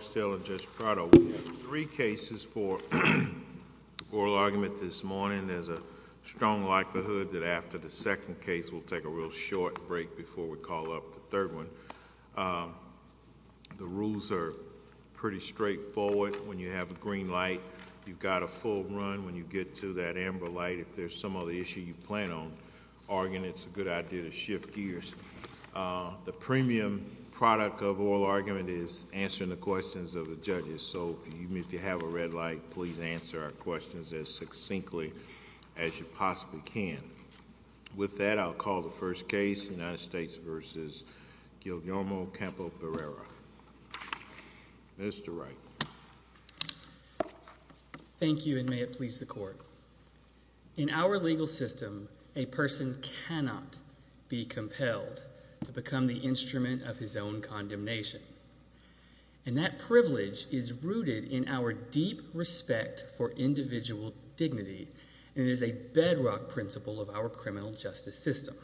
Three cases for oral argument this morning. There's a strong likelihood that after the second case, we'll take a real short break before we call up the third one. The rules are pretty straightforward. When you have a green light, you've got a full run. When you get to that amber light, if there's some other issue you plan on arguing, it's a good idea to shift gears. The premium product of oral argument is answering the questions of the judges, so even if you have a red light, please answer our questions as succinctly as you possibly can. With that, I'll call the first case, United States v. Guillermo Campa-Barrera. Mr. Wright. Thank you, and may it please the court. In our legal system, a person cannot be compelled to become the instrument of his own condemnation, and that privilege is rooted in our deep respect for individual dignity, and it is a bedrock principle of our criminal justice system.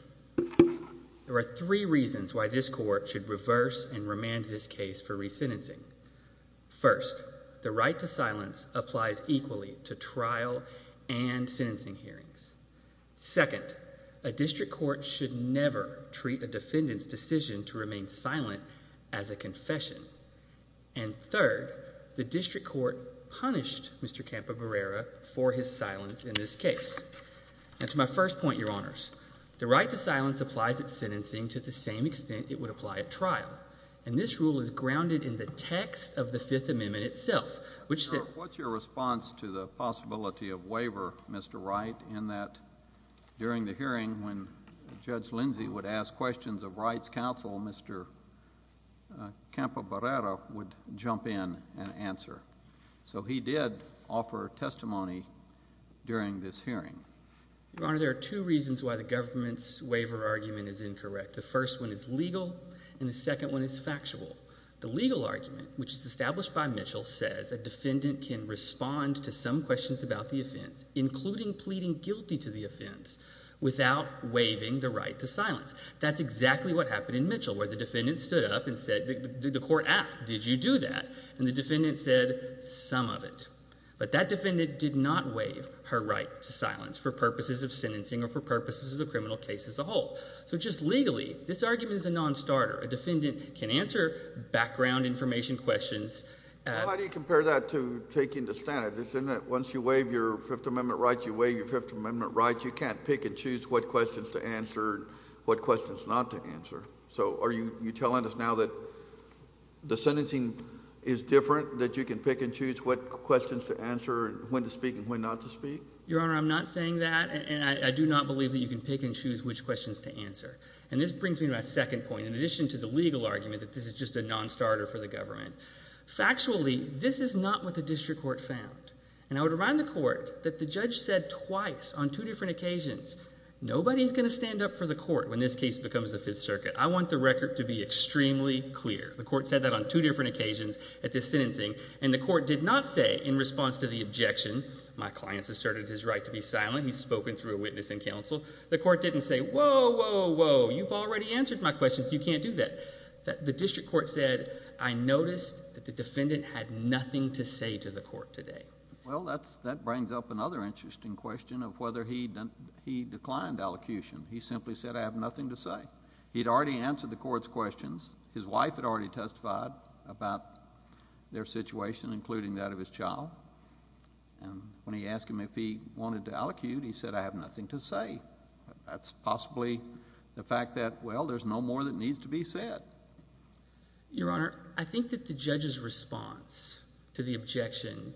There are three reasons why this court should reverse and remand this case for resentencing. First, the right to silence applies equally to trial and sentencing hearings. Second, a district court should never treat a defendant's decision to remain silent as a confession. And third, the district court punished Mr. Campa-Barrera for his silence in this case. Now, to my first point, Your Honors, the right to silence applies at sentencing to the same extent it would apply at trial, and this rule is grounded in the text of the Fifth Amendment itself, which says— What's your response to the possibility of waiver, Mr. Wright, in that during the hearing, when Judge Lindsey would ask questions of rights counsel, Mr. Campa-Barrera would jump in and answer. So he did offer testimony during this hearing. Your Honor, there are two reasons why the government's waiver argument is incorrect. The first one is legal, and the second one is factual. The legal argument, which is established by Mitchell, says a defendant can respond to some questions about the offense, including pleading guilty to the offense, without waiving the right to silence. That's exactly what happened in Mitchell, where the defendant stood up and said—the court asked, did you do that? And the defendant said, some of it. But that defendant did not waive her right to silence for purposes of sentencing or for purposes of the criminal case as a whole. So just legally, this argument is a non-starter. A defendant can answer background information questions— Well, how do you compare that to taking the standard? Isn't it once you waive your Fifth Amendment rights, you waive your Fifth Amendment rights, you can't pick and choose what questions to answer and what questions not to answer? So are you telling us now that the sentencing is different, that you can pick and choose what questions to answer and when to speak and when not to speak? Your Honor, I'm not saying that, and I do not believe that you can pick and choose which questions to answer. And this brings me to my second point. In addition to the legal Factually, this is not what the district court found. And I would remind the court that the judge said twice on two different occasions, nobody's going to stand up for the court when this case becomes the Fifth Circuit. I want the record to be extremely clear. The court said that on two different occasions at this sentencing, and the court did not say in response to the objection, my client has asserted his right to be silent, he's spoken through a witness and counsel, the court didn't say, whoa, whoa, whoa, you've already answered my questions, you can't do that. The district court said, I noticed that the defendant had nothing to say to the court today. Well, that brings up another interesting question of whether he declined allocution. He simply said, I have nothing to say. He'd already answered the court's questions. His wife had already testified about their situation, including that of his child. And when he asked him if he wanted to allocute, he said, I have nothing to say. That's possibly the fact that, well, there's no more that needs to be said. Your Honor, I think that the judge's response to the objection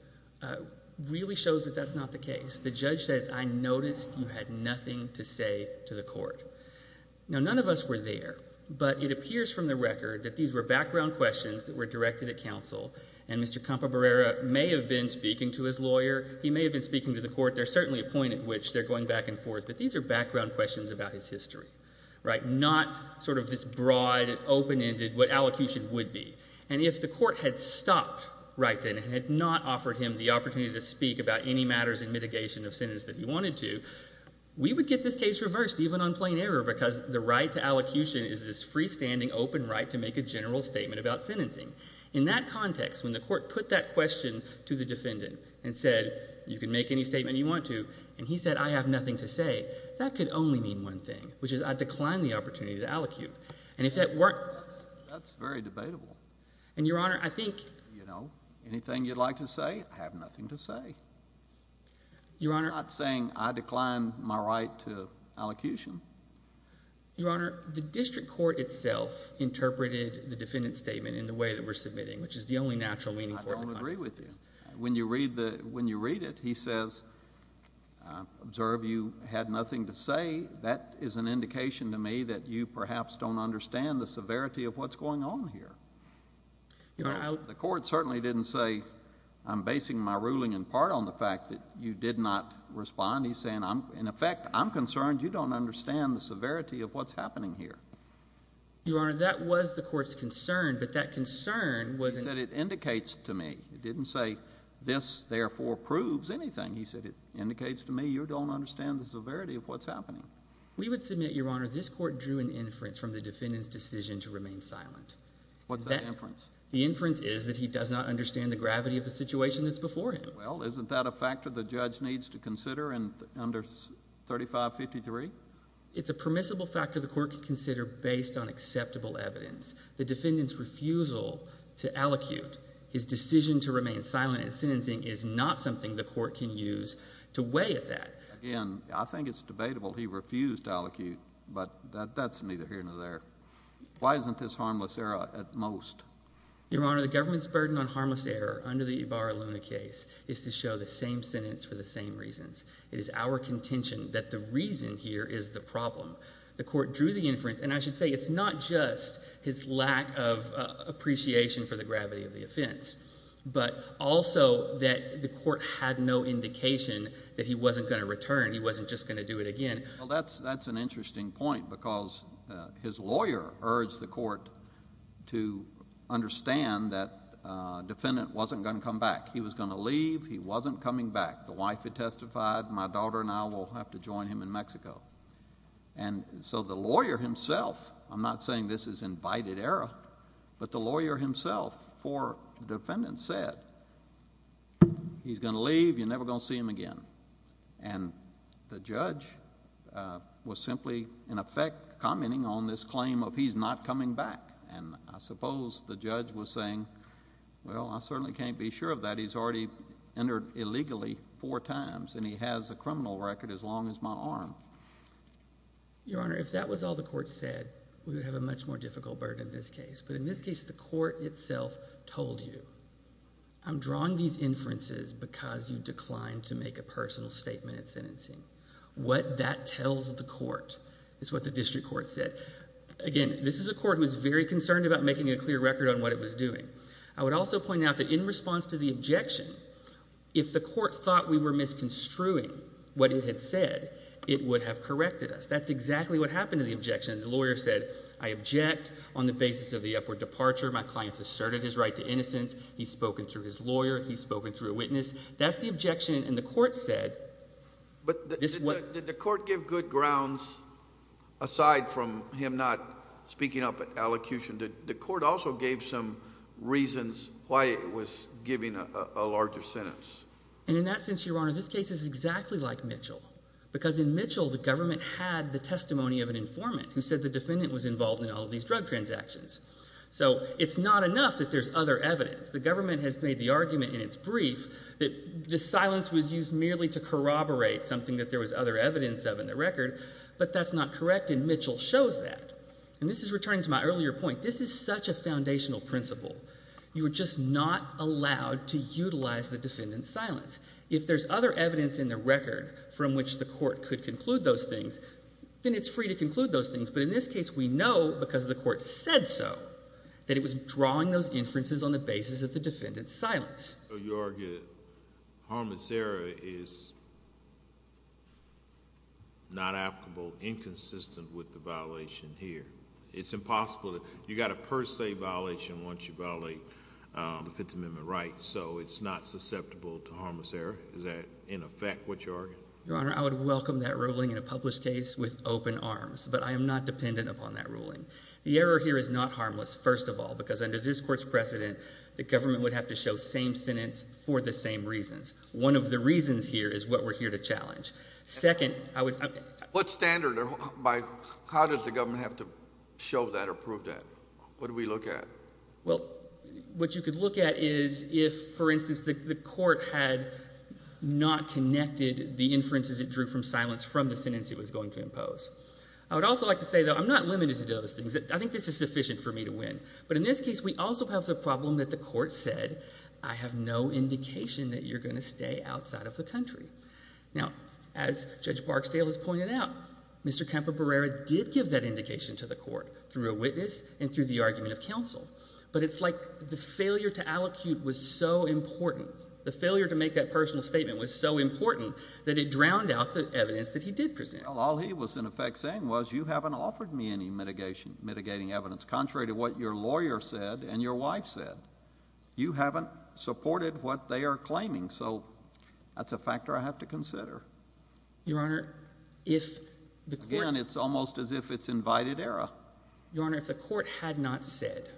really shows that that's not the case. The judge says, I noticed you had nothing to say to the court. Now, none of us were there, but it appears from the record that these were background questions that were directed at counsel, and Mr. Campobarera may have been speaking to his lawyer, he may have been speaking to the court, there's certainly a point at which they're going back and forth, but these are background questions about his history, not sort of this broad, open-ended, what allocution would be. And if the court had stopped right then and had not offered him the opportunity to speak about any matters in mitigation of sentence that he wanted to, we would get this case reversed, even on plain error, because the right to allocution is this freestanding, open right to make a general statement about sentencing. In that context, when the court put that question to the defendant and said, you can make any statement you want to say, that could only mean one thing, which is I decline the opportunity to allocute. And if that weren't the case, that's very debatable. And, Your Honor, I think... You know, anything you'd like to say, I have nothing to say. Your Honor... I'm not saying I decline my right to allocution. Your Honor, the district court itself interpreted the defendant's statement in the way that we're submitting, which is the only natural meaning for it in the context of this case. When you read it, he says, observe, you had nothing to say. That is an indication to me that you perhaps don't understand the severity of what's going on here. Your Honor, I... The court certainly didn't say, I'm basing my ruling in part on the fact that you did not respond. He's saying, in effect, I'm concerned you don't understand the severity of what's happening here. Your Honor, that was the court's concern, but that concern was... This, therefore, proves anything. He said, it indicates to me you don't understand the severity of what's happening. We would submit, Your Honor, this court drew an inference from the defendant's decision to remain silent. What's that inference? The inference is that he does not understand the gravity of the situation that's before him. Well, isn't that a factor the judge needs to consider under 3553? It's a permissible factor the court can consider based on acceptable evidence. The defendant's decision to remain silent in sentencing is not something the court can use to weigh at that. Again, I think it's debatable he refused to allocate, but that's neither here nor there. Why isn't this harmless error at most? Your Honor, the government's burden on harmless error under the Ibarra-Luna case is to show the same sentence for the same reasons. It is our contention that the reason here is the problem. The court drew the inference, and I should say it's not just his lack of appreciation for the gravity of the offense, but also that the court had no indication that he wasn't going to return. He wasn't just going to do it again. That's an interesting point because his lawyer urged the court to understand that the defendant wasn't going to come back. He was going to leave. He wasn't coming back. The wife had testified. My daughter and I will have to join him in Mexico. And so the lawyer himself, I'm not saying this is invited error, but the lawyer himself for the defendant said, he's going to leave. You're never going to see him again. And the judge was simply, in effect, commenting on this claim of he's not coming back. And I suppose the judge was saying, well, I certainly can't be sure of that. He's already entered illegally four times, and he has a criminal record as long as my arm. Your Honor, if that was all the court said, we would have a much more difficult burden in this case. But in this case, the court itself told you, I'm drawing these inferences because you declined to make a personal statement in sentencing. What that tells the court is what the district court said. Again, this is a court who is very concerned about making a clear record on what it was objection. If the court thought we were misconstruing what it had said, it would have corrected us. That's exactly what happened to the objection. The lawyer said, I object on the basis of the upward departure. My client's asserted his right to innocence. He's spoken through his lawyer. He's spoken through a witness. That's the objection. And the court said. But did the court give good grounds aside from him not speaking up at allocution? Did And in that sense, Your Honor, this case is exactly like Mitchell. Because in Mitchell, the government had the testimony of an informant who said the defendant was involved in all of these drug transactions. So it's not enough that there's other evidence. The government has made the argument in its brief that the silence was used merely to corroborate something that there was other evidence of in the record. But that's not correct, and Mitchell shows that. And this is returning to my earlier point. This is such a foundational principle. You were just not allowed to utilize the defendant's silence. If there's other evidence in the record from which the court could conclude those things, then it's free to conclude those things. But in this case, we know because the court said so, that it was drawing those inferences on the basis of the defendant's silence. So you argue Harmon's error is not applicable, inconsistent with the violation here. It's not a defense amendment right. So it's not susceptible to Harmon's error. Is that, in effect, what you're arguing? Your Honor, I would welcome that ruling in a published case with open arms. But I am not dependent upon that ruling. The error here is not Harmon's, first of all, because under this court's precedent, the government would have to show same sentence for the same reasons. One of the reasons here is what we're here to challenge. Second, I would What standard? How does the government have to show that or prove that? What do we look at? Well, what you could look at is if, for instance, the court had not connected the inferences it drew from silence from the sentence it was going to impose. I would also like to say, though, I'm not limited to those things. I think this is sufficient for me to win. But in this case, we also have the problem that the court said, I have no indication that you're going to stay outside of the country. Now, as Judge Barksdale has pointed out, Mr. Campobarera did give that indication to the court through a witness and through the argument of counsel. But it's like the failure to allocute was so important. The failure to make that personal statement was so important that it drowned out the evidence that he did present. All he was, in effect, saying was you haven't offered me any mitigation mitigating evidence contrary to what your lawyer said and your wife said. You haven't supported what they are claiming. So that's a factor I have to consider. Your Honor, if the again, it's almost as if it's invited error. Your Honor, if the court had not said,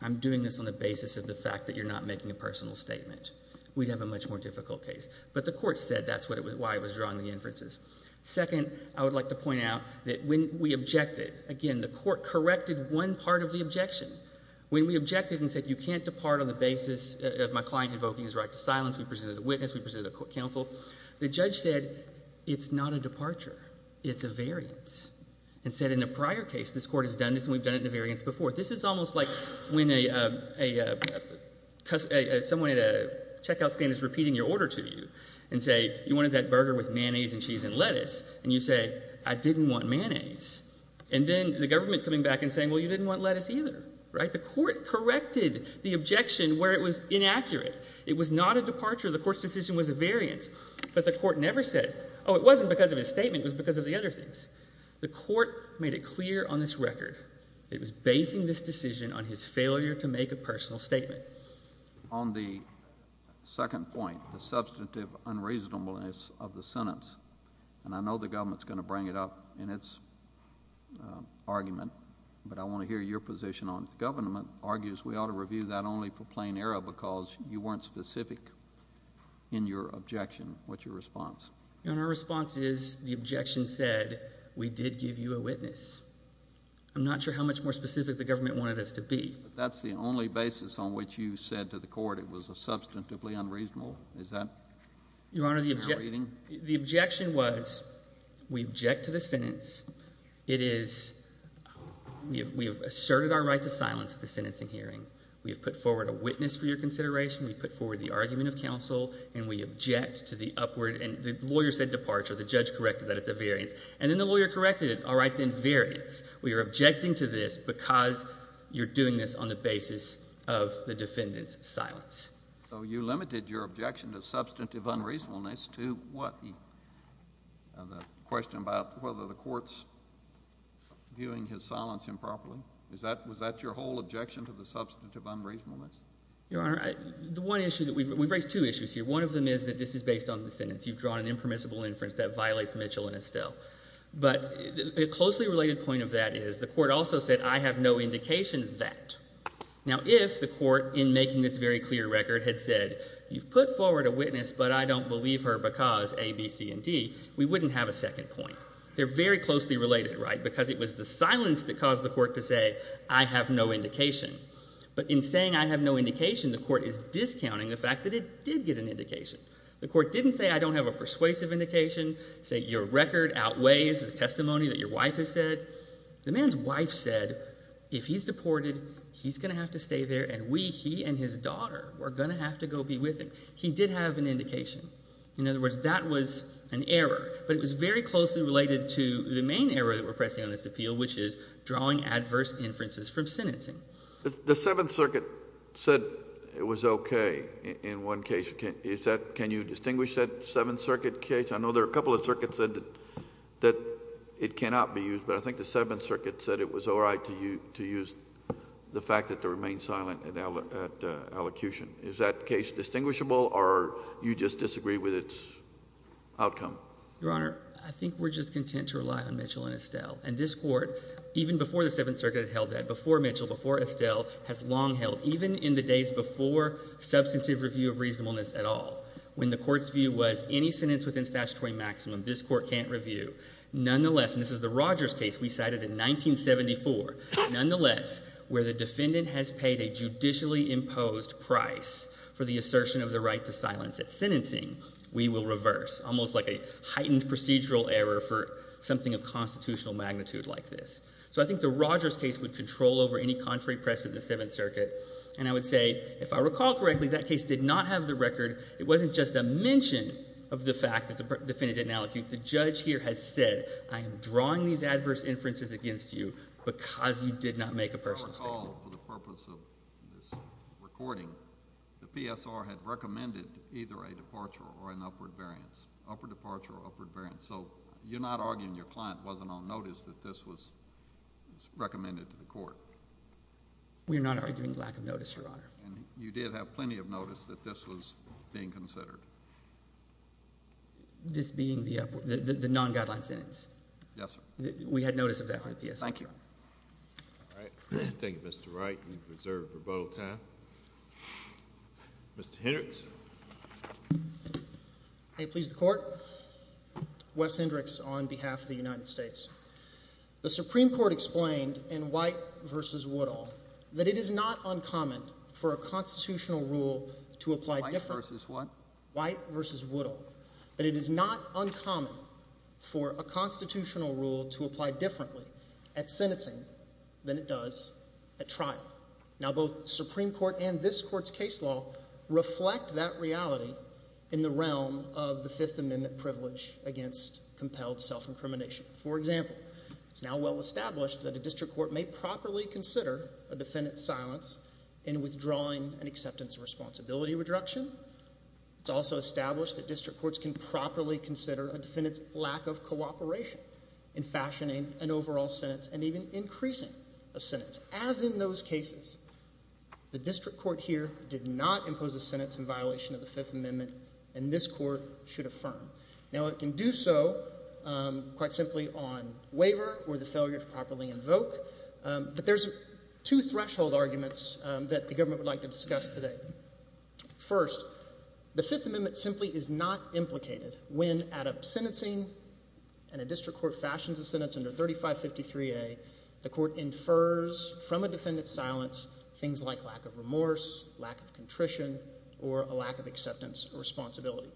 I'm doing this on the basis of the fact that you're not making a personal statement, we'd have a much more difficult case. But the court said that's why it was drawing the inferences. Second, I would like to point out that when we objected, again, the court corrected one part of the objection. When we objected and said you can't depart on the basis of my client invoking his right to silence, we presented a witness, we presented a counsel, the judge said it's not a departure. It's a variance. And said in a prior case, this court has done this and we've done it in a variance before. This is almost like when a, a, a, someone at a checkout stand is repeating your order to you and say, you wanted that burger with mayonnaise and cheese and lettuce. And you say, I didn't want mayonnaise. And then the government coming back and saying, well, you didn't want lettuce either. Right? The court corrected the objection where it was inaccurate. It was not a departure. The court's decision was a variance. But the court never said, oh, it wasn't because of his statement, it was because of the other things. The court made it clear on this record it was basing this decision on his failure to make a personal statement. On the second point, the substantive unreasonableness of the sentence, and I know the government's going to bring it up in its argument, but I want to hear your position on it. The government argues we ought to review that only for plain error because you weren't specific in your objection. What's your response? Your Honor, our response is the objection said we did give you a witness. I'm not sure how much more specific the government wanted us to be. That's the only basis on which you said to the court it was a substantively unreasonable. Is that? Your Honor, the objection was we object to the sentence. It is, we have asserted our right to silence at the sentencing hearing. We have put forward a witness for your consideration. We've put forward the argument of counsel, and we object to the upward, and the lawyer said departure. The judge corrected that it's a variance. And then the lawyer corrected it, all right, then variance. We are objecting to this because you're doing this on the basis of the defendant's silence. So you limited your objection to substantive unreasonableness to what? The question about whether the court's viewing his silence improperly? Was that your whole objection to the substantive unreasonableness? Your Honor, the one issue, we've raised two issues here. One of them is that this is based on the sentence. You've drawn an impermissible inference that violates Mitchell and Estelle. But a closely related point of that is the court also said I have no indication that. Now if the court, in making this very clear record, had said you've put forward a witness but I don't believe her because A, B, C, and D, we wouldn't have a second point. They're very closely related, right, because it was the silence that caused the court to say I have no indication. But in saying I have no indication, the court is discounting the fact that it did get an indication. The court didn't say I don't have a persuasive indication, say your record outweighs the testimony that your wife has said. The man's wife said if he's deported, he's going to have to stay there, and we, he and his daughter, are going to have to go be with him. He did have an indication. In other words, that was an error. But it was very closely related to the main error that we're pressing on this appeal, which is drawing adverse inferences from sentencing. The Seventh Circuit said it was okay in one case. Is that, can you distinguish that Seventh Circuit case? I know there are a couple of circuits that said that it cannot be used, but I think the Seventh Circuit said it was all right to use the fact that they remained silent at allocution. Is that case distinguishable, or you just disagree with its outcome? Your Honor, I think we're just content to rely on Mitchell and Estelle. And this Court, even before the Seventh Circuit held that, before Mitchell, before Estelle, has long held, even in the days before substantive review of reasonableness at all, when the Court's view was any sentence within statutory maximum, this Court can't review. Nonetheless, and this is the Rogers case we cited in 1974, nonetheless, where the defendant has paid a judicially imposed price for the assertion of the right to silence at sentencing, we will reverse, almost like a heightened procedural error for something of constitutional magnitude like this. So I think the Rogers case would control over any contrary press of the Seventh Circuit. And I would say, if I recall correctly, that case did not have the record. It wasn't just a mention of the fact that the defendant didn't allocute. The judge here has said, I am drawing these adverse inferences against you because you did not make a personal statement. You did not make a personal statement. You did not make a personal statement. And I think this Court, as a whole, for the purpose of this recording, the PSR had recommended either a departure or an upward variance, upper departure or upward variance. So you're not arguing your client wasn't on notice that this was recommended to the Court. We're not arguing lack of notice, Your Honor. And you did have plenty of notice that this was being considered. This being the non-guideline sentence. Yes, sir. We had notice of that from the PSR. Thank you. Thank you. Thank you. Thank you. Thank you. Thank you. Thank you. Thank you. Thank you. The case will be closed. Mr. Wright, you are reserved for bow time. Mr. Hendricks? May it please the Court, Wes Hendricks on behalf of the United States. The Supreme Court explained in White v. Woodall that it is not uncommon for a constitutional rule to apply different- White vs. what? White v. Woodall. That it is not uncommon for a constitutional rule to apply differently at sentencing than it does at trial. Now, both Supreme Court and this Court's case law reflect that reality in the realm of the Fifth Amendment privilege against compelled self-incrimination. For example, it's now well established that a district court may properly consider a defendant's silence in withdrawing an acceptance of responsibility reduction. It's also established that district courts can properly consider a defendant's lack of increasing a sentence. As in those cases, the district court here did not impose a sentence in violation of the Fifth Amendment, and this Court should affirm. Now, it can do so quite simply on waiver or the failure to properly invoke, but there's two threshold arguments that the government would like to discuss today. First, the Fifth Amendment simply is not implicated when at a sentencing and a district court fashions a sentence under 3553A, the Court infers from a defendant's silence things like lack of remorse, lack of contrition, or a lack of acceptance of responsibility.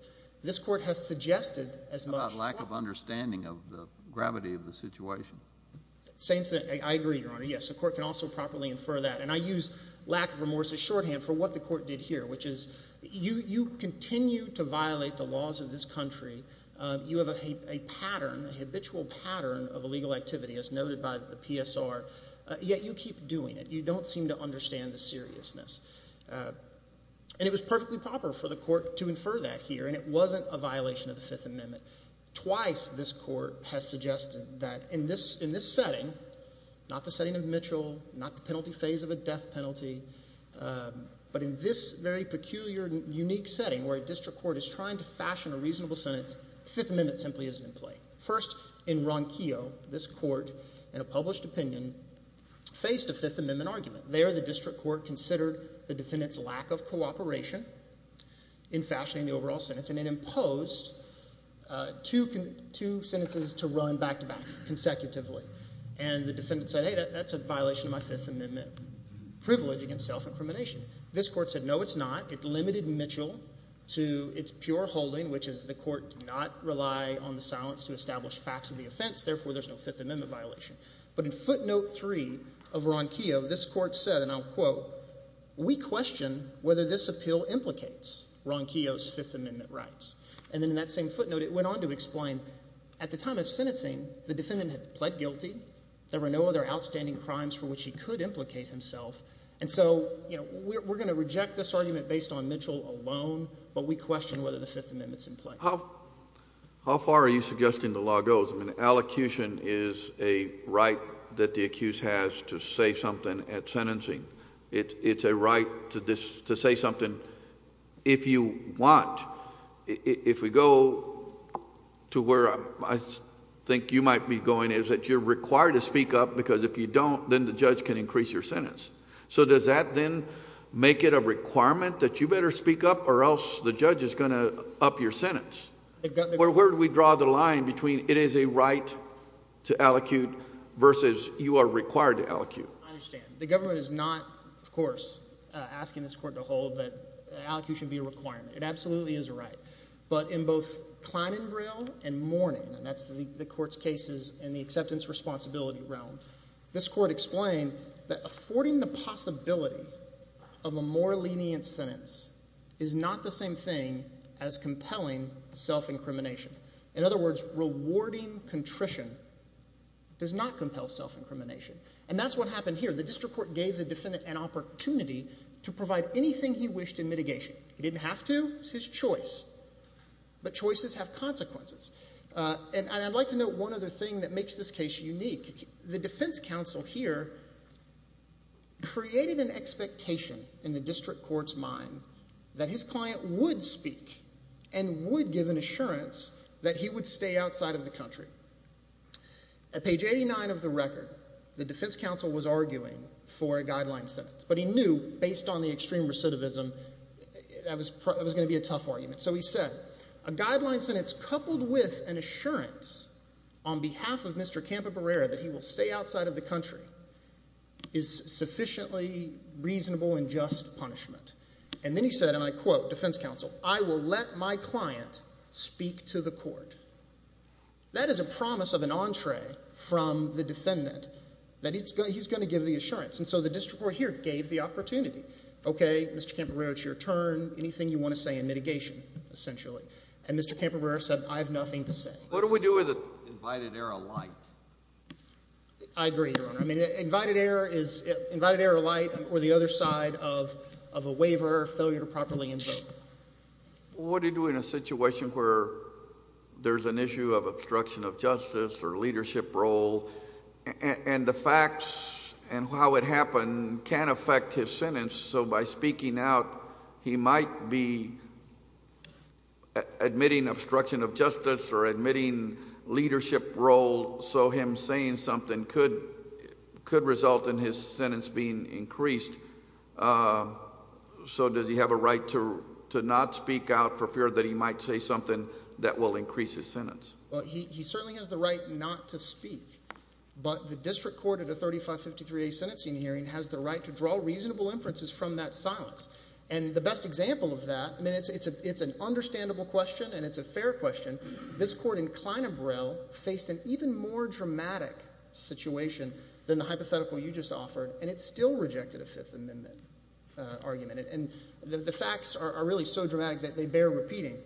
This Court has suggested as much- About lack of understanding of the gravity of the situation. Same thing. I agree, Your Honor. Yes, the Court can also properly infer that. And I use lack of remorse as shorthand for what the Court did here, which is you continue to violate the laws of this country, you have a pattern, a habitual pattern of illegal activity as noted by the PSR, yet you keep doing it. You don't seem to understand the seriousness. And it was perfectly proper for the Court to infer that here, and it wasn't a violation of the Fifth Amendment. Twice this Court has suggested that in this setting, not the setting of Mitchell, not the penalty phase of a death penalty, but in this very peculiar and unique setting where a district court is trying to fashion a reasonable sentence, Fifth Amendment simply isn't in play. First, in Ronquillo, this Court, in a published opinion, faced a Fifth Amendment argument. There, the district court considered the defendant's lack of cooperation in fashioning the overall sentence, and it imposed two sentences to run back-to-back consecutively. And the defendant said, hey, that's a violation of my Fifth Amendment privilege against self-incrimination. This Court said, no, it's not. It limited Mitchell to its pure holding, which is the Court did not rely on the silence to establish facts of the offense. Therefore, there's no Fifth Amendment violation. But in footnote three of Ronquillo, this Court said, and I'll quote, we question whether this appeal implicates Ronquillo's Fifth Amendment rights. And then in that same footnote, it went on to explain at the time of sentencing, the defendant had pled guilty. There were no other outstanding crimes for which he could implicate himself. And so, you know, we're going to reject this argument based on Mitchell alone, but we question whether the Fifth Amendment's in play. How far are you suggesting the law goes? I mean, allocution is a right that the accused has to say something at sentencing. It's a right to say something if you want. If we go to where I think you might be going is that you're required to speak up because if you don't, then the judge can increase your sentence. So does that then make it a requirement that you better speak up or else the judge is going to up your sentence? Where do we draw the line between it is a right to allocute versus you are required to allocute? I understand. The government is not, of course, asking this Court to hold that allocution should be a requirement. It absolutely is a right. But in both Kleinenbril and Mourning, and that's the Court's cases in the acceptance responsibility realm, this Court explained that affording the possibility of a more lenient sentence is not the same thing as compelling self-incrimination. In other words, rewarding contrition does not compel self-incrimination. And that's what happened here. The district court gave the defendant an opportunity to provide anything he wished in mitigation. He didn't have to. It was his choice. But choices have consequences. And I'd like to note one other thing that makes this case unique. The defense counsel here created an expectation in the district court's mind that his client would speak and would give an assurance that he would stay outside of the country. At page 89 of the record, the defense counsel was arguing for a guideline sentence. But he knew, based on the extreme recidivism, that was going to be a tough argument. So he said, a guideline sentence coupled with an assurance on behalf of Mr. Campobarera that he will stay outside of the country is sufficiently reasonable and just punishment. And then he said, and I quote, defense counsel, I will let my client speak to the court. That is a promise of an entree from the defendant that he's going to give the assurance. And so the district court here gave the opportunity. Okay, Mr. Campobarera, it's your turn. Anything you want to say in mitigation, essentially. And Mr. Campobarera said, I have nothing to say. What do we do with invited error light? I agree, Your Honor. I mean, invited error is invited error light or the other side of a waiver or failure to properly invoke. What do you do in a situation where there's an issue of obstruction of justice or leadership role and the facts and how it happened can affect his sentence. So by speaking out, he might be admitting obstruction of justice or admitting leadership role. So him saying something could result in his sentence being increased. So does he have a right to not speak out for fear that he might say something that will increase his sentence? Well, he certainly has the right not to speak. But the district court at the 3553A sentencing hearing has the right to draw reasonable inferences from that silence. And the best example of that, I mean, it's an understandable question and it's a fair question. This court in Klein and Burrell faced an even more dramatic situation than the hypothetical you just offered, and it still rejected a Fifth Amendment argument. And the facts are really so dramatic that they bear repeating.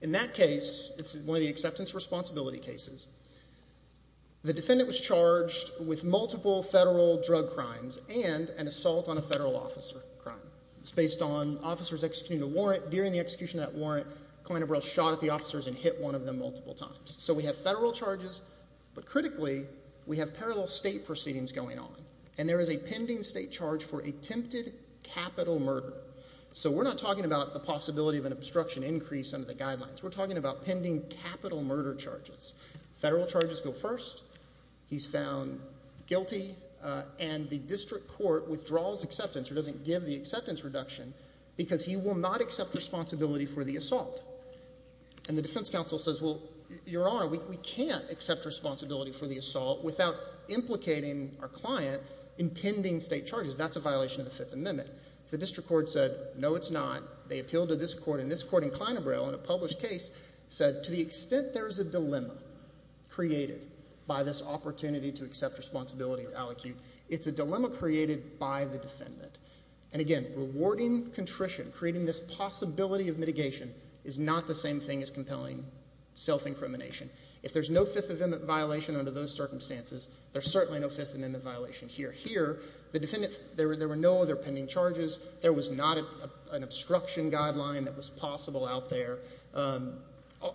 In that case, it's one of the acceptance responsibility cases, the defendant was charged with multiple federal drug crimes and an assault on a federal officer crime. It's based on officers executing a warrant. During the execution of that warrant, Klein and Burrell shot at the officers and hit one of them multiple times. So we have federal charges, but critically, we have parallel state proceedings going on. And there is a pending state charge for attempted capital murder. So we're not talking about the possibility of an obstruction increase under the guidelines. We're talking about pending capital murder charges. Federal charges go first. He's found guilty, and the district court withdraws acceptance or doesn't give the acceptance reduction because he will not accept responsibility for the assault. And the defense counsel says, well, Your Honor, we can't accept responsibility for the assault without implicating our client in pending state charges. That's a violation of the Fifth Amendment. The district court said, no, it's not. They appealed to this court, and this court in Klein and Burrell in a published case said, to the extent there is a dilemma created by this opportunity to accept responsibility or aliquot, it's a dilemma created by the defendant. And again, rewarding contrition, creating this possibility of mitigation, is not the same thing as compelling self-incrimination. If there's no Fifth Amendment violation under those circumstances, there's certainly no Fifth Amendment violation here. The defendant, there were no other pending charges. There was not an obstruction guideline that was possible out there.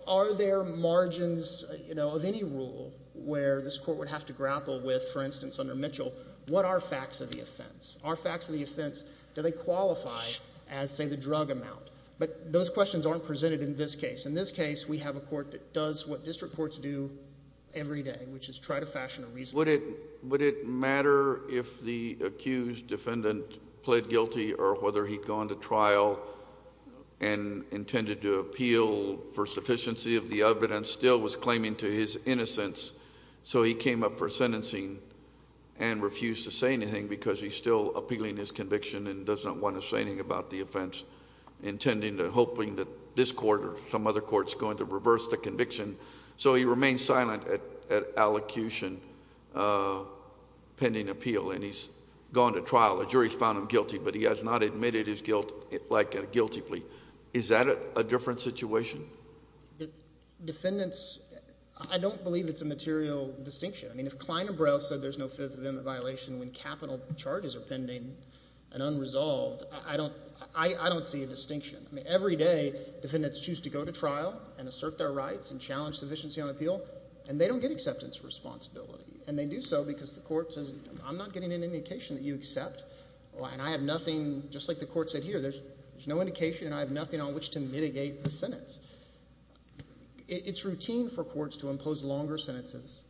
Are there margins of any rule where this court would have to grapple with, for instance, under Mitchell, what are facts of the offense? Are facts of the offense, do they qualify as, say, the drug amount? But those questions aren't presented in this case. In this case, we have a court that does what district courts do every day, which is try to fashion a reasonable. Would it matter if the accused defendant pled guilty or whether he'd gone to trial and intended to appeal for sufficiency of the evidence, still was claiming to his innocence, so he came up for sentencing and refused to say anything because he's still appealing his conviction and doesn't want to say anything about the offense, intending or hoping that this court or some other court is going to reverse the conviction, so he remains silent at allocution, pending appeal, and he's gone to trial. The jury's found him guilty, but he has not admitted his guilt, like a guilty plea. Is that a different situation? Defendants – I don't believe it's a material distinction. I mean if Klein and Brel said there's no Fifth Amendment violation when capital charges are pending and unresolved, I don't see a distinction. I mean every day defendants choose to go to trial and assert their rights and challenge sufficiency on appeal, and they don't get acceptance responsibility, and they do so because the court says, I'm not getting an indication that you accept, and I have nothing, just like the court said here, there's no indication and I have nothing on which to mitigate the sentence. It's routine for courts to impose longer sentences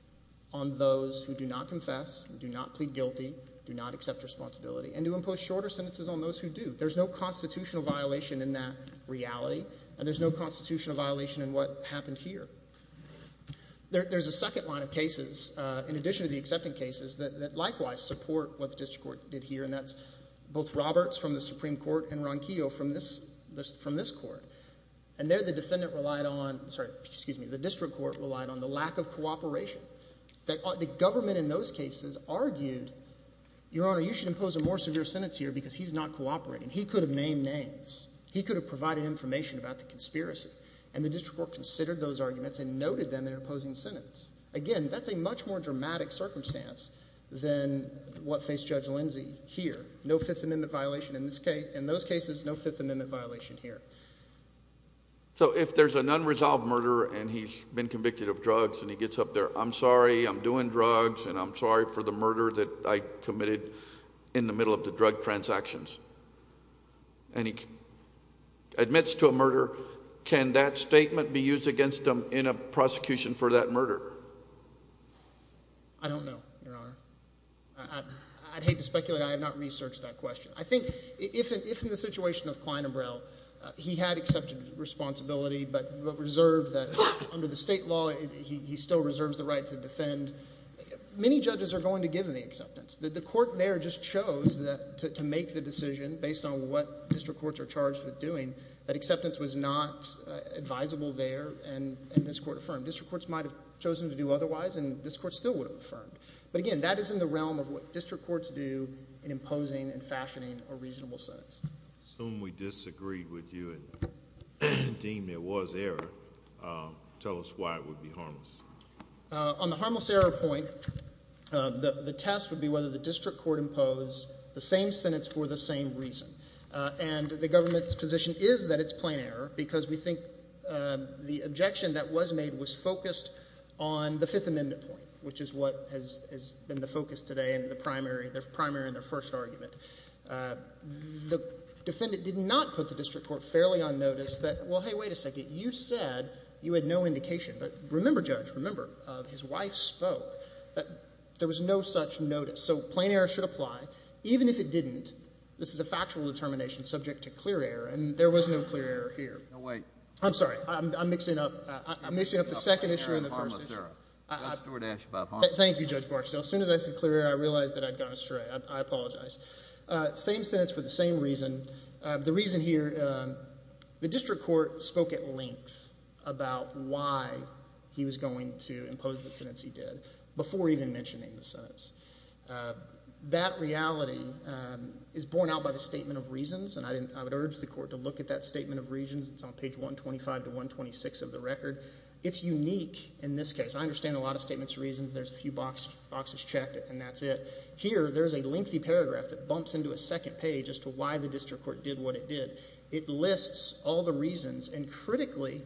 on those who do not confess, do not plead guilty, do not accept responsibility, and to impose shorter sentences on those who do. There's no constitutional violation in that reality, and there's no constitutional violation in what happened here. There's a second line of cases, in addition to the accepting cases, that likewise support what the district court did here, and that's both Roberts from the Supreme Court and Ronquillo from this court. And there the defendant relied on – sorry, excuse me – the district court relied on the lack of cooperation. The government in those cases argued, Your Honor, you should impose a more severe sentence here because he's not cooperating. He could have named names. He could have provided information about the conspiracy, and the district court considered those arguments and noted them in an opposing sentence. Again, that's a much more dramatic circumstance than what faced Judge Lindsey here. No Fifth Amendment violation in those cases, no Fifth Amendment violation here. So if there's an unresolved murder and he's been convicted of drugs and he gets up there, and he says, I'm sorry, I'm doing drugs, and I'm sorry for the murder that I committed in the middle of the drug transactions, and he admits to a murder, can that statement be used against him in a prosecution for that murder? I don't know, Your Honor. I'd hate to speculate. I have not researched that question. I think if in the situation of Klein and Brow, he had accepted responsibility, but reserved that under the state law he still reserves the right to defend, many judges are going to give him the acceptance. The court there just chose to make the decision based on what district courts are charged with doing. That acceptance was not advisable there, and this court affirmed. District courts might have chosen to do otherwise, and this court still would have affirmed. But again, that is in the realm of what district courts do in imposing and fashioning a reasonable sentence. I assume we disagreed with you and deemed it was error. Tell us why it would be harmless. On the harmless error point, the test would be whether the district court imposed the same sentence for the same reason. And the government's position is that it's plain error because we think the objection that was made was focused on the Fifth Amendment point, which is what has been the focus today in their primary and their first argument. The defendant did not put the district court fairly on notice that, well, hey, wait a second. You said you had no indication. But remember, Judge, remember, his wife spoke that there was no such notice. So plain error should apply. Even if it didn't, this is a factual determination subject to clear error, and there was no clear error here. No, wait. I'm sorry. I'm mixing up the second issue and the first issue. Thank you, Judge Barksdale. As soon as I said clear error, I realized that I'd gone astray. I apologize. Same sentence for the same reason. The reason here, the district court spoke at length about why he was going to impose the sentence he did before even mentioning the sentence. That reality is borne out by the statement of reasons, and I would urge the court to look at that statement of reasons. It's on page 125 to 126 of the record. It's unique in this case. I understand a lot of statements of reasons. There's a few boxes checked, and that's it. Here, there's a lengthy paragraph that bumps into a second page as to why the district court did what it did. It lists all the reasons, and critically,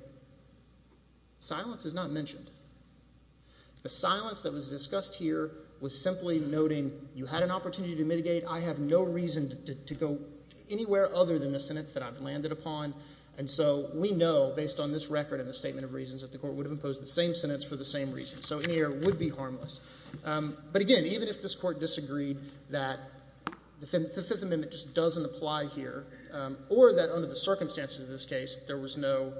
silence is not mentioned. The silence that was discussed here was simply noting you had an opportunity to mitigate. I have no reason to go anywhere other than the sentence that I've landed upon. And so we know, based on this record and the statement of reasons, that the court would have imposed the same sentence for the same reason. So any error would be harmless. But, again, even if this court disagreed that the Fifth Amendment just doesn't apply here, or that under the circumstances of this case there was no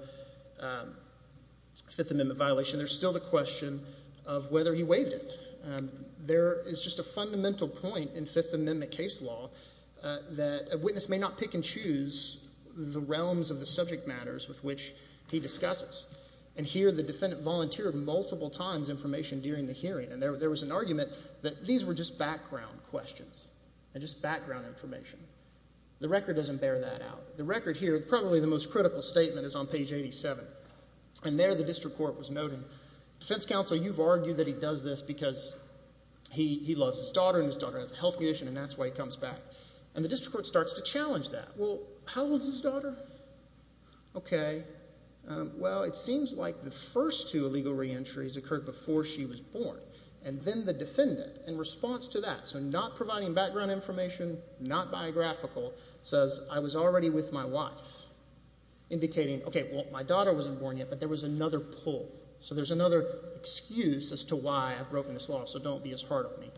Fifth Amendment violation, there's still the question of whether he waived it. There is just a fundamental point in Fifth Amendment case law that a witness may not pick and choose the realms of the subject matters with which he discusses. And here, the defendant volunteered multiple times information during the hearing. And there was an argument that these were just background questions and just background information. The record doesn't bear that out. The record here, probably the most critical statement, is on page 87. And there the district court was noting, defense counsel, you've argued that he does this because he loves his daughter, and his daughter has a health condition, and that's why he comes back. And the district court starts to challenge that. Well, how old is his daughter? Okay. Well, it seems like the first two illegal reentries occurred before she was born. And then the defendant, in response to that, so not providing background information, not biographical, says, I was already with my wife, indicating, okay, well, my daughter wasn't born yet, but there was another pull. So there's another excuse as to why I've broken this law, so don't be as hard on me.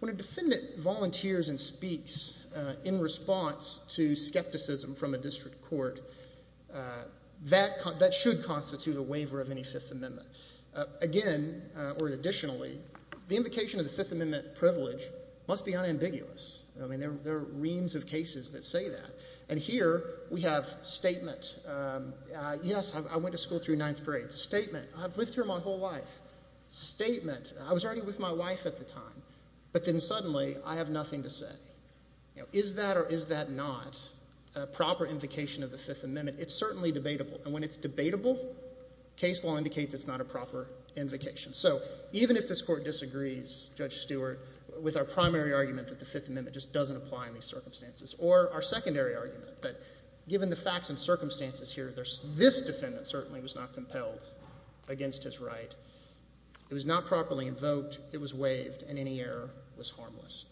When a defendant volunteers and speaks in response to skepticism from a district court, that should constitute a waiver of any Fifth Amendment. Again, or additionally, the invocation of the Fifth Amendment privilege must be unambiguous. I mean, there are reams of cases that say that. And here we have statement. Yes, I went to school through ninth grade. Statement. I've lived here my whole life. Statement. I was already with my wife at the time. But then suddenly I have nothing to say. Is that or is that not a proper invocation of the Fifth Amendment? It's certainly debatable. And when it's debatable, case law indicates it's not a proper invocation. So even if this Court disagrees, Judge Stewart, with our primary argument that the Fifth Amendment just doesn't apply in these circumstances, or our secondary argument that given the facts and circumstances here, this defendant certainly was not compelled against his right. It was not properly invoked. It was waived. And any error was harmless.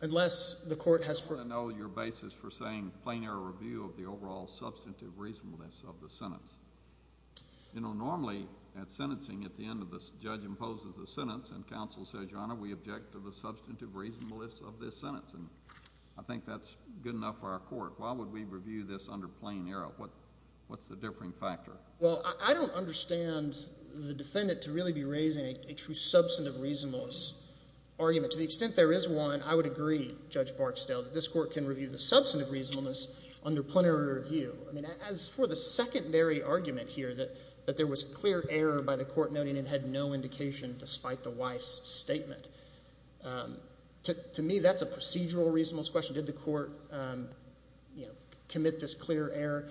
Unless the Court has— I want to know your basis for saying plain error review of the overall substantive reasonableness of the sentence. You know, normally at sentencing at the end of the—the judge imposes the sentence and counsel says, Your Honor, we object to the substantive reasonableness of this sentence. And I think that's good enough for our Court. Why would we review this under plain error? What's the differing factor? Well, I don't understand the defendant to really be raising a true substantive reasonableness argument. To the extent there is one, I would agree, Judge Barksdale, that this Court can review the substantive reasonableness under plain error review. I mean, as for the secondary argument here that there was clear error by the Court noting it had no indication despite the wife's statement, to me that's a procedural reasonableness question. Did the Court, you know, commit this clear error?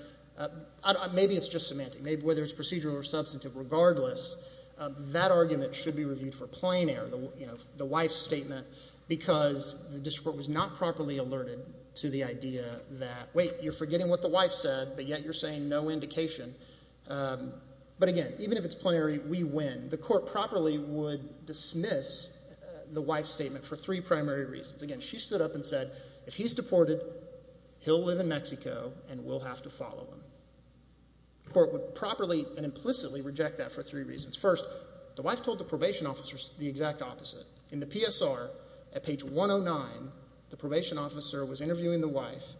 Maybe it's just semantic. Maybe whether it's procedural or substantive, regardless, that argument should be reviewed for plain error. You know, the wife's statement because the district court was not properly alerted to the idea that, wait, you're forgetting what the wife said, but yet you're saying no indication. But again, even if it's plain error, we win. The Court properly would dismiss the wife's statement for three primary reasons. Again, she stood up and said, if he's deported, he'll live in Mexico and we'll have to follow him. The Court would properly and implicitly reject that for three reasons. First, the wife told the probation officer the exact opposite. In the PSR, at page 109, the probation officer was interviewing the wife,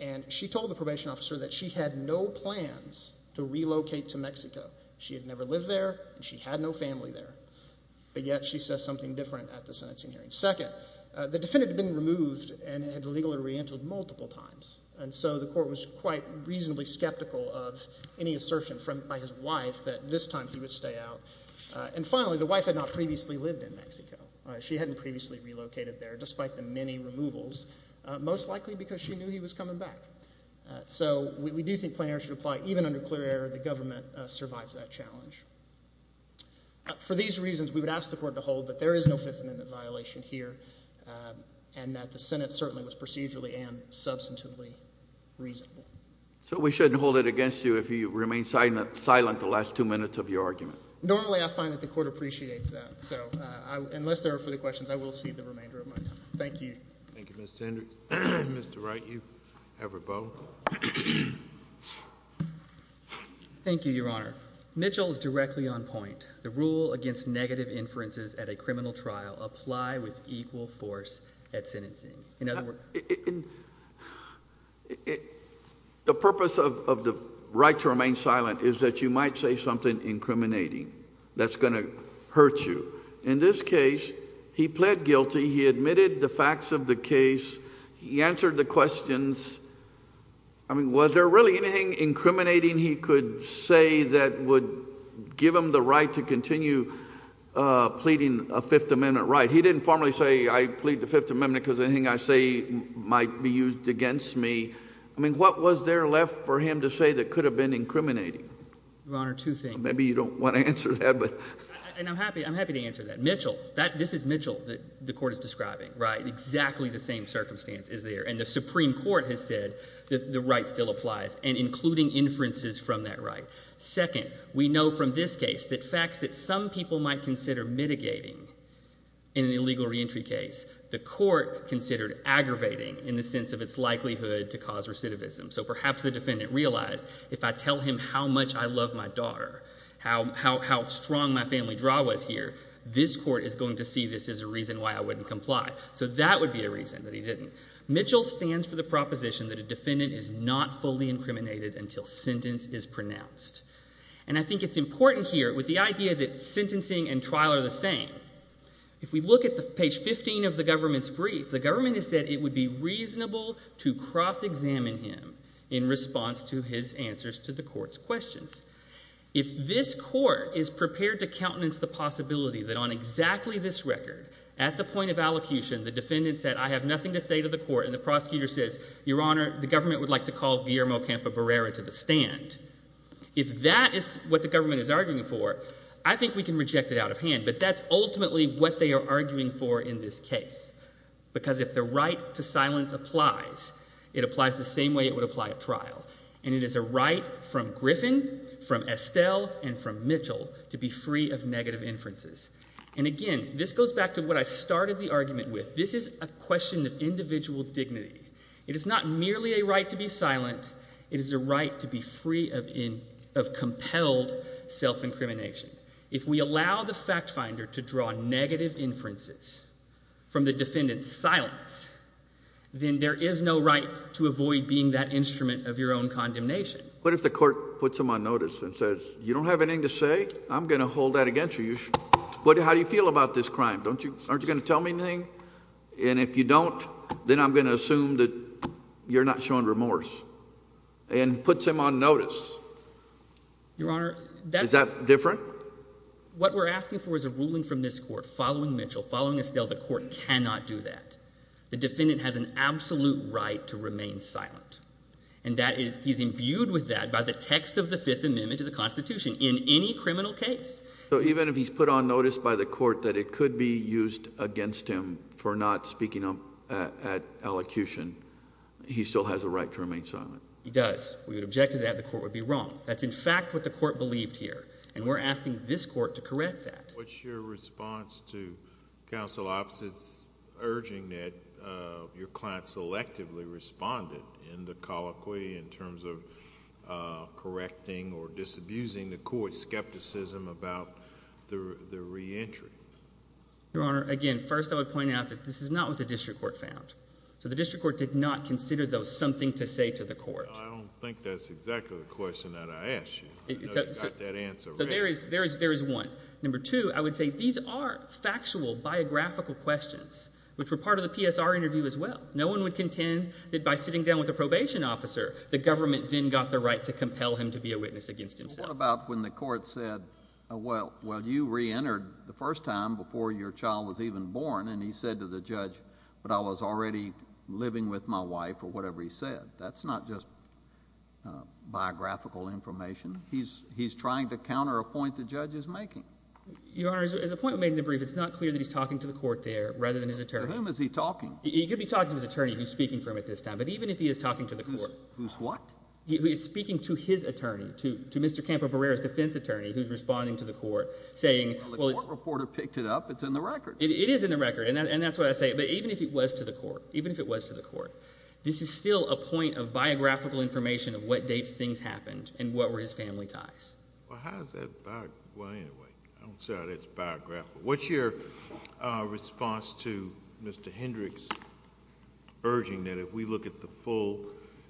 and she told the probation officer that she had no plans to relocate to Mexico. She had never lived there and she had no family there, but yet she says something different at the sentencing hearing. Second, the defendant had been removed and had legally re-entered multiple times, and so the Court was quite reasonably skeptical of any assertion by his wife that this time he would stay out. And finally, the wife had not previously lived in Mexico. She hadn't previously relocated there, despite the many removals, most likely because she knew he was coming back. So we do think plain error should apply. Even under clear error, the government survives that challenge. For these reasons, we would ask the Court to hold that there is no fifth amendment violation here and that the Senate certainly was procedurally and substantively reasonable. So we shouldn't hold it against you if you remain silent the last two minutes of your argument? Normally I find that the Court appreciates that. So unless there are further questions, I will cede the remainder of my time. Thank you. Thank you, Mr. Hendricks. Mr. Wright, you have a vote. Thank you, Your Honor. Mitchell is directly on point. The rule against negative inferences at a criminal trial apply with equal force at sentencing. The purpose of the right to remain silent is that you might say something incriminating that's going to hurt you. In this case, he pled guilty. He admitted the facts of the case. He answered the questions. I mean, was there really anything incriminating he could say that would give him the right to continue pleading a fifth amendment right? He didn't formally say, I plead the fifth amendment because anything I say might be used against me. I mean, what was there left for him to say that could have been incriminating? Your Honor, two things. Maybe you don't want to answer that. And I'm happy to answer that. Mitchell, this is Mitchell that the Court is describing, right? Exactly the same circumstance is there. And the Supreme Court has said that the right still applies and including inferences from that right. Second, we know from this case that facts that some people might consider mitigating in an illegal reentry case, the Court considered aggravating in the sense of its likelihood to cause recidivism. So perhaps the defendant realized if I tell him how much I love my daughter, how strong my family draw was here, this Court is going to see this as a reason why I wouldn't comply. So that would be a reason that he didn't. Mitchell stands for the proposition that a defendant is not fully incriminated until sentence is pronounced. And I think it's important here with the idea that sentencing and trial are the same. If we look at page 15 of the government's brief, the government has said it would be reasonable to cross-examine him in response to his answers to the Court's questions. If this Court is prepared to countenance the possibility that on exactly this record, at the point of allocution, the defendant said, I have nothing to say to the Court, and the prosecutor says, Your Honor, the government would like to call Guillermo Campobarera to the stand, if that is what the government is arguing for, I think we can reject it out of hand. But that's ultimately what they are arguing for in this case. Because if the right to silence applies, it applies the same way it would apply at trial. And it is a right from Griffin, from Estelle, and from Mitchell to be free of negative inferences. And again, this goes back to what I started the argument with. This is a question of individual dignity. It is not merely a right to be silent. It is a right to be free of compelled self-incrimination. If we allow the fact finder to draw negative inferences from the defendant's silence, then there is no right to avoid being that instrument of your own condemnation. What if the court puts him on notice and says, you don't have anything to say? I'm going to hold that against you. How do you feel about this crime? Aren't you going to tell me anything? And if you don't, then I'm going to assume that you're not showing remorse. And puts him on notice. Your Honor, that's… Is that different? What we're asking for is a ruling from this court following Mitchell, following Estelle. The court cannot do that. The defendant has an absolute right to remain silent. And he's imbued with that by the text of the Fifth Amendment to the Constitution in any criminal case. So even if he's put on notice by the court that it could be used against him for not speaking up at elocution, he still has a right to remain silent? He does. We would object to that. The court would be wrong. That's in fact what the court believed here. And we're asking this court to correct that. What's your response to counsel opposites urging that your client selectively responded in the colloquy in terms of correcting or disabusing the court's skepticism about the reentry? Your Honor, again, first I would point out that this is not what the district court found. So the district court did not consider those something to say to the court. I don't think that's exactly the question that I asked you. I got that answer right. So there is one. Number two, I would say these are factual, biographical questions, which were part of the PSR interview as well. No one would contend that by sitting down with a probation officer, the government then got the right to compel him to be a witness against himself. What about when the court said, well, you reentered the first time before your child was even born, and he said to the judge, but I was already living with my wife or whatever he said? That's not just biographical information. He's trying to counter a point the judge is making. Your Honor, as a point made in the brief, it's not clear that he's talking to the court there rather than his attorney. To whom is he talking? He could be talking to his attorney, who's speaking for him at this time. But even if he is talking to the court. Who's what? He's speaking to his attorney, to Mr. Campo Barrera's defense attorney, who's responding to the court, saying, well, it's – Well, the court reporter picked it up. It's in the record. It is in the record, and that's what I say. But even if it was to the court, even if it was to the court, this is still a point of biographical information of what dates things happened and what were his family ties. Well, how does that – well, anyway, I don't see how that's biographical. What's your response to Mr. Hendricks urging that if we look at the full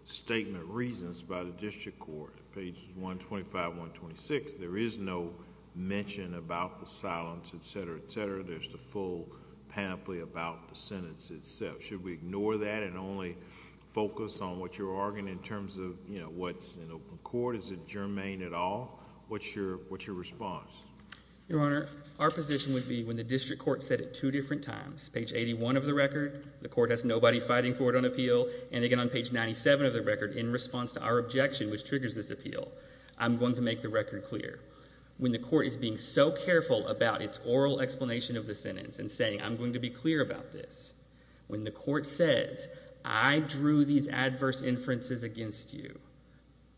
statement of reasons by the district court, page 125, 126, there is no mention about the silence, et cetera, et cetera. There's the full panoply about the sentence itself. Should we ignore that and only focus on what you're arguing in terms of what's in open court? Is it germane at all? What's your response? Your Honor, our position would be when the district court said it two different times, page 81 of the record, the court has nobody fighting for it on appeal, and again on page 97 of the record, in response to our objection, which triggers this appeal, I'm going to make the record clear. When the court is being so careful about its oral explanation of the sentence and saying I'm going to be clear about this, when the court says I drew these adverse inferences against you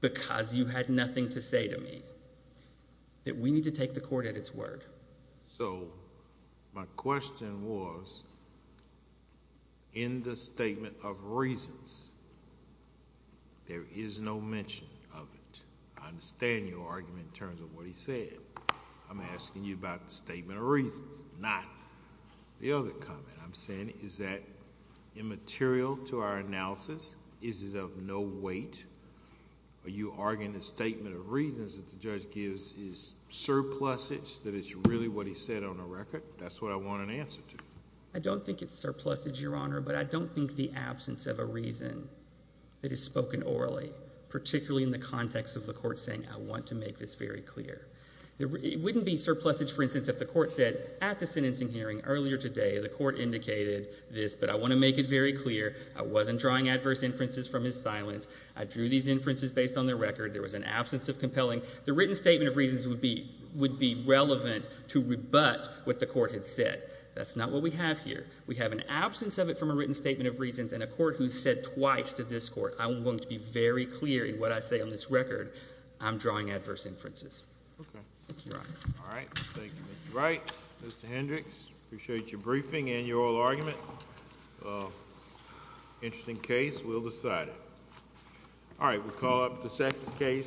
because you had nothing to say to me, that we need to take the court at its word. So my question was in the statement of reasons, there is no mention of it. I understand your argument in terms of what he said. I'm asking you about the statement of reasons, not the other comment. I'm saying is that immaterial to our analysis? Is it of no weight? Are you arguing the statement of reasons that the judge gives is surplusage, that it's really what he said on the record? That's what I want an answer to. I don't think it's surplusage, Your Honor, but I don't think the absence of a reason that is spoken orally, particularly in the context of the court saying I want to make this very clear. It wouldn't be surplusage, for instance, if the court said at the sentencing hearing earlier today, the court indicated this, but I want to make it very clear. I wasn't drawing adverse inferences from his silence. I drew these inferences based on the record. There was an absence of compelling. The written statement of reasons would be relevant to rebut what the court had said. That's not what we have here. We have an absence of it from a written statement of reasons and a court who said twice to this court, I want to be very clear in what I say on this record. I'm drawing adverse inferences. Thank you, Your Honor. All right. Thank you, Mr. Wright. Mr. Hendricks, appreciate your briefing and your oral argument. Interesting case. We'll decide it. All right. We'll call up the second case.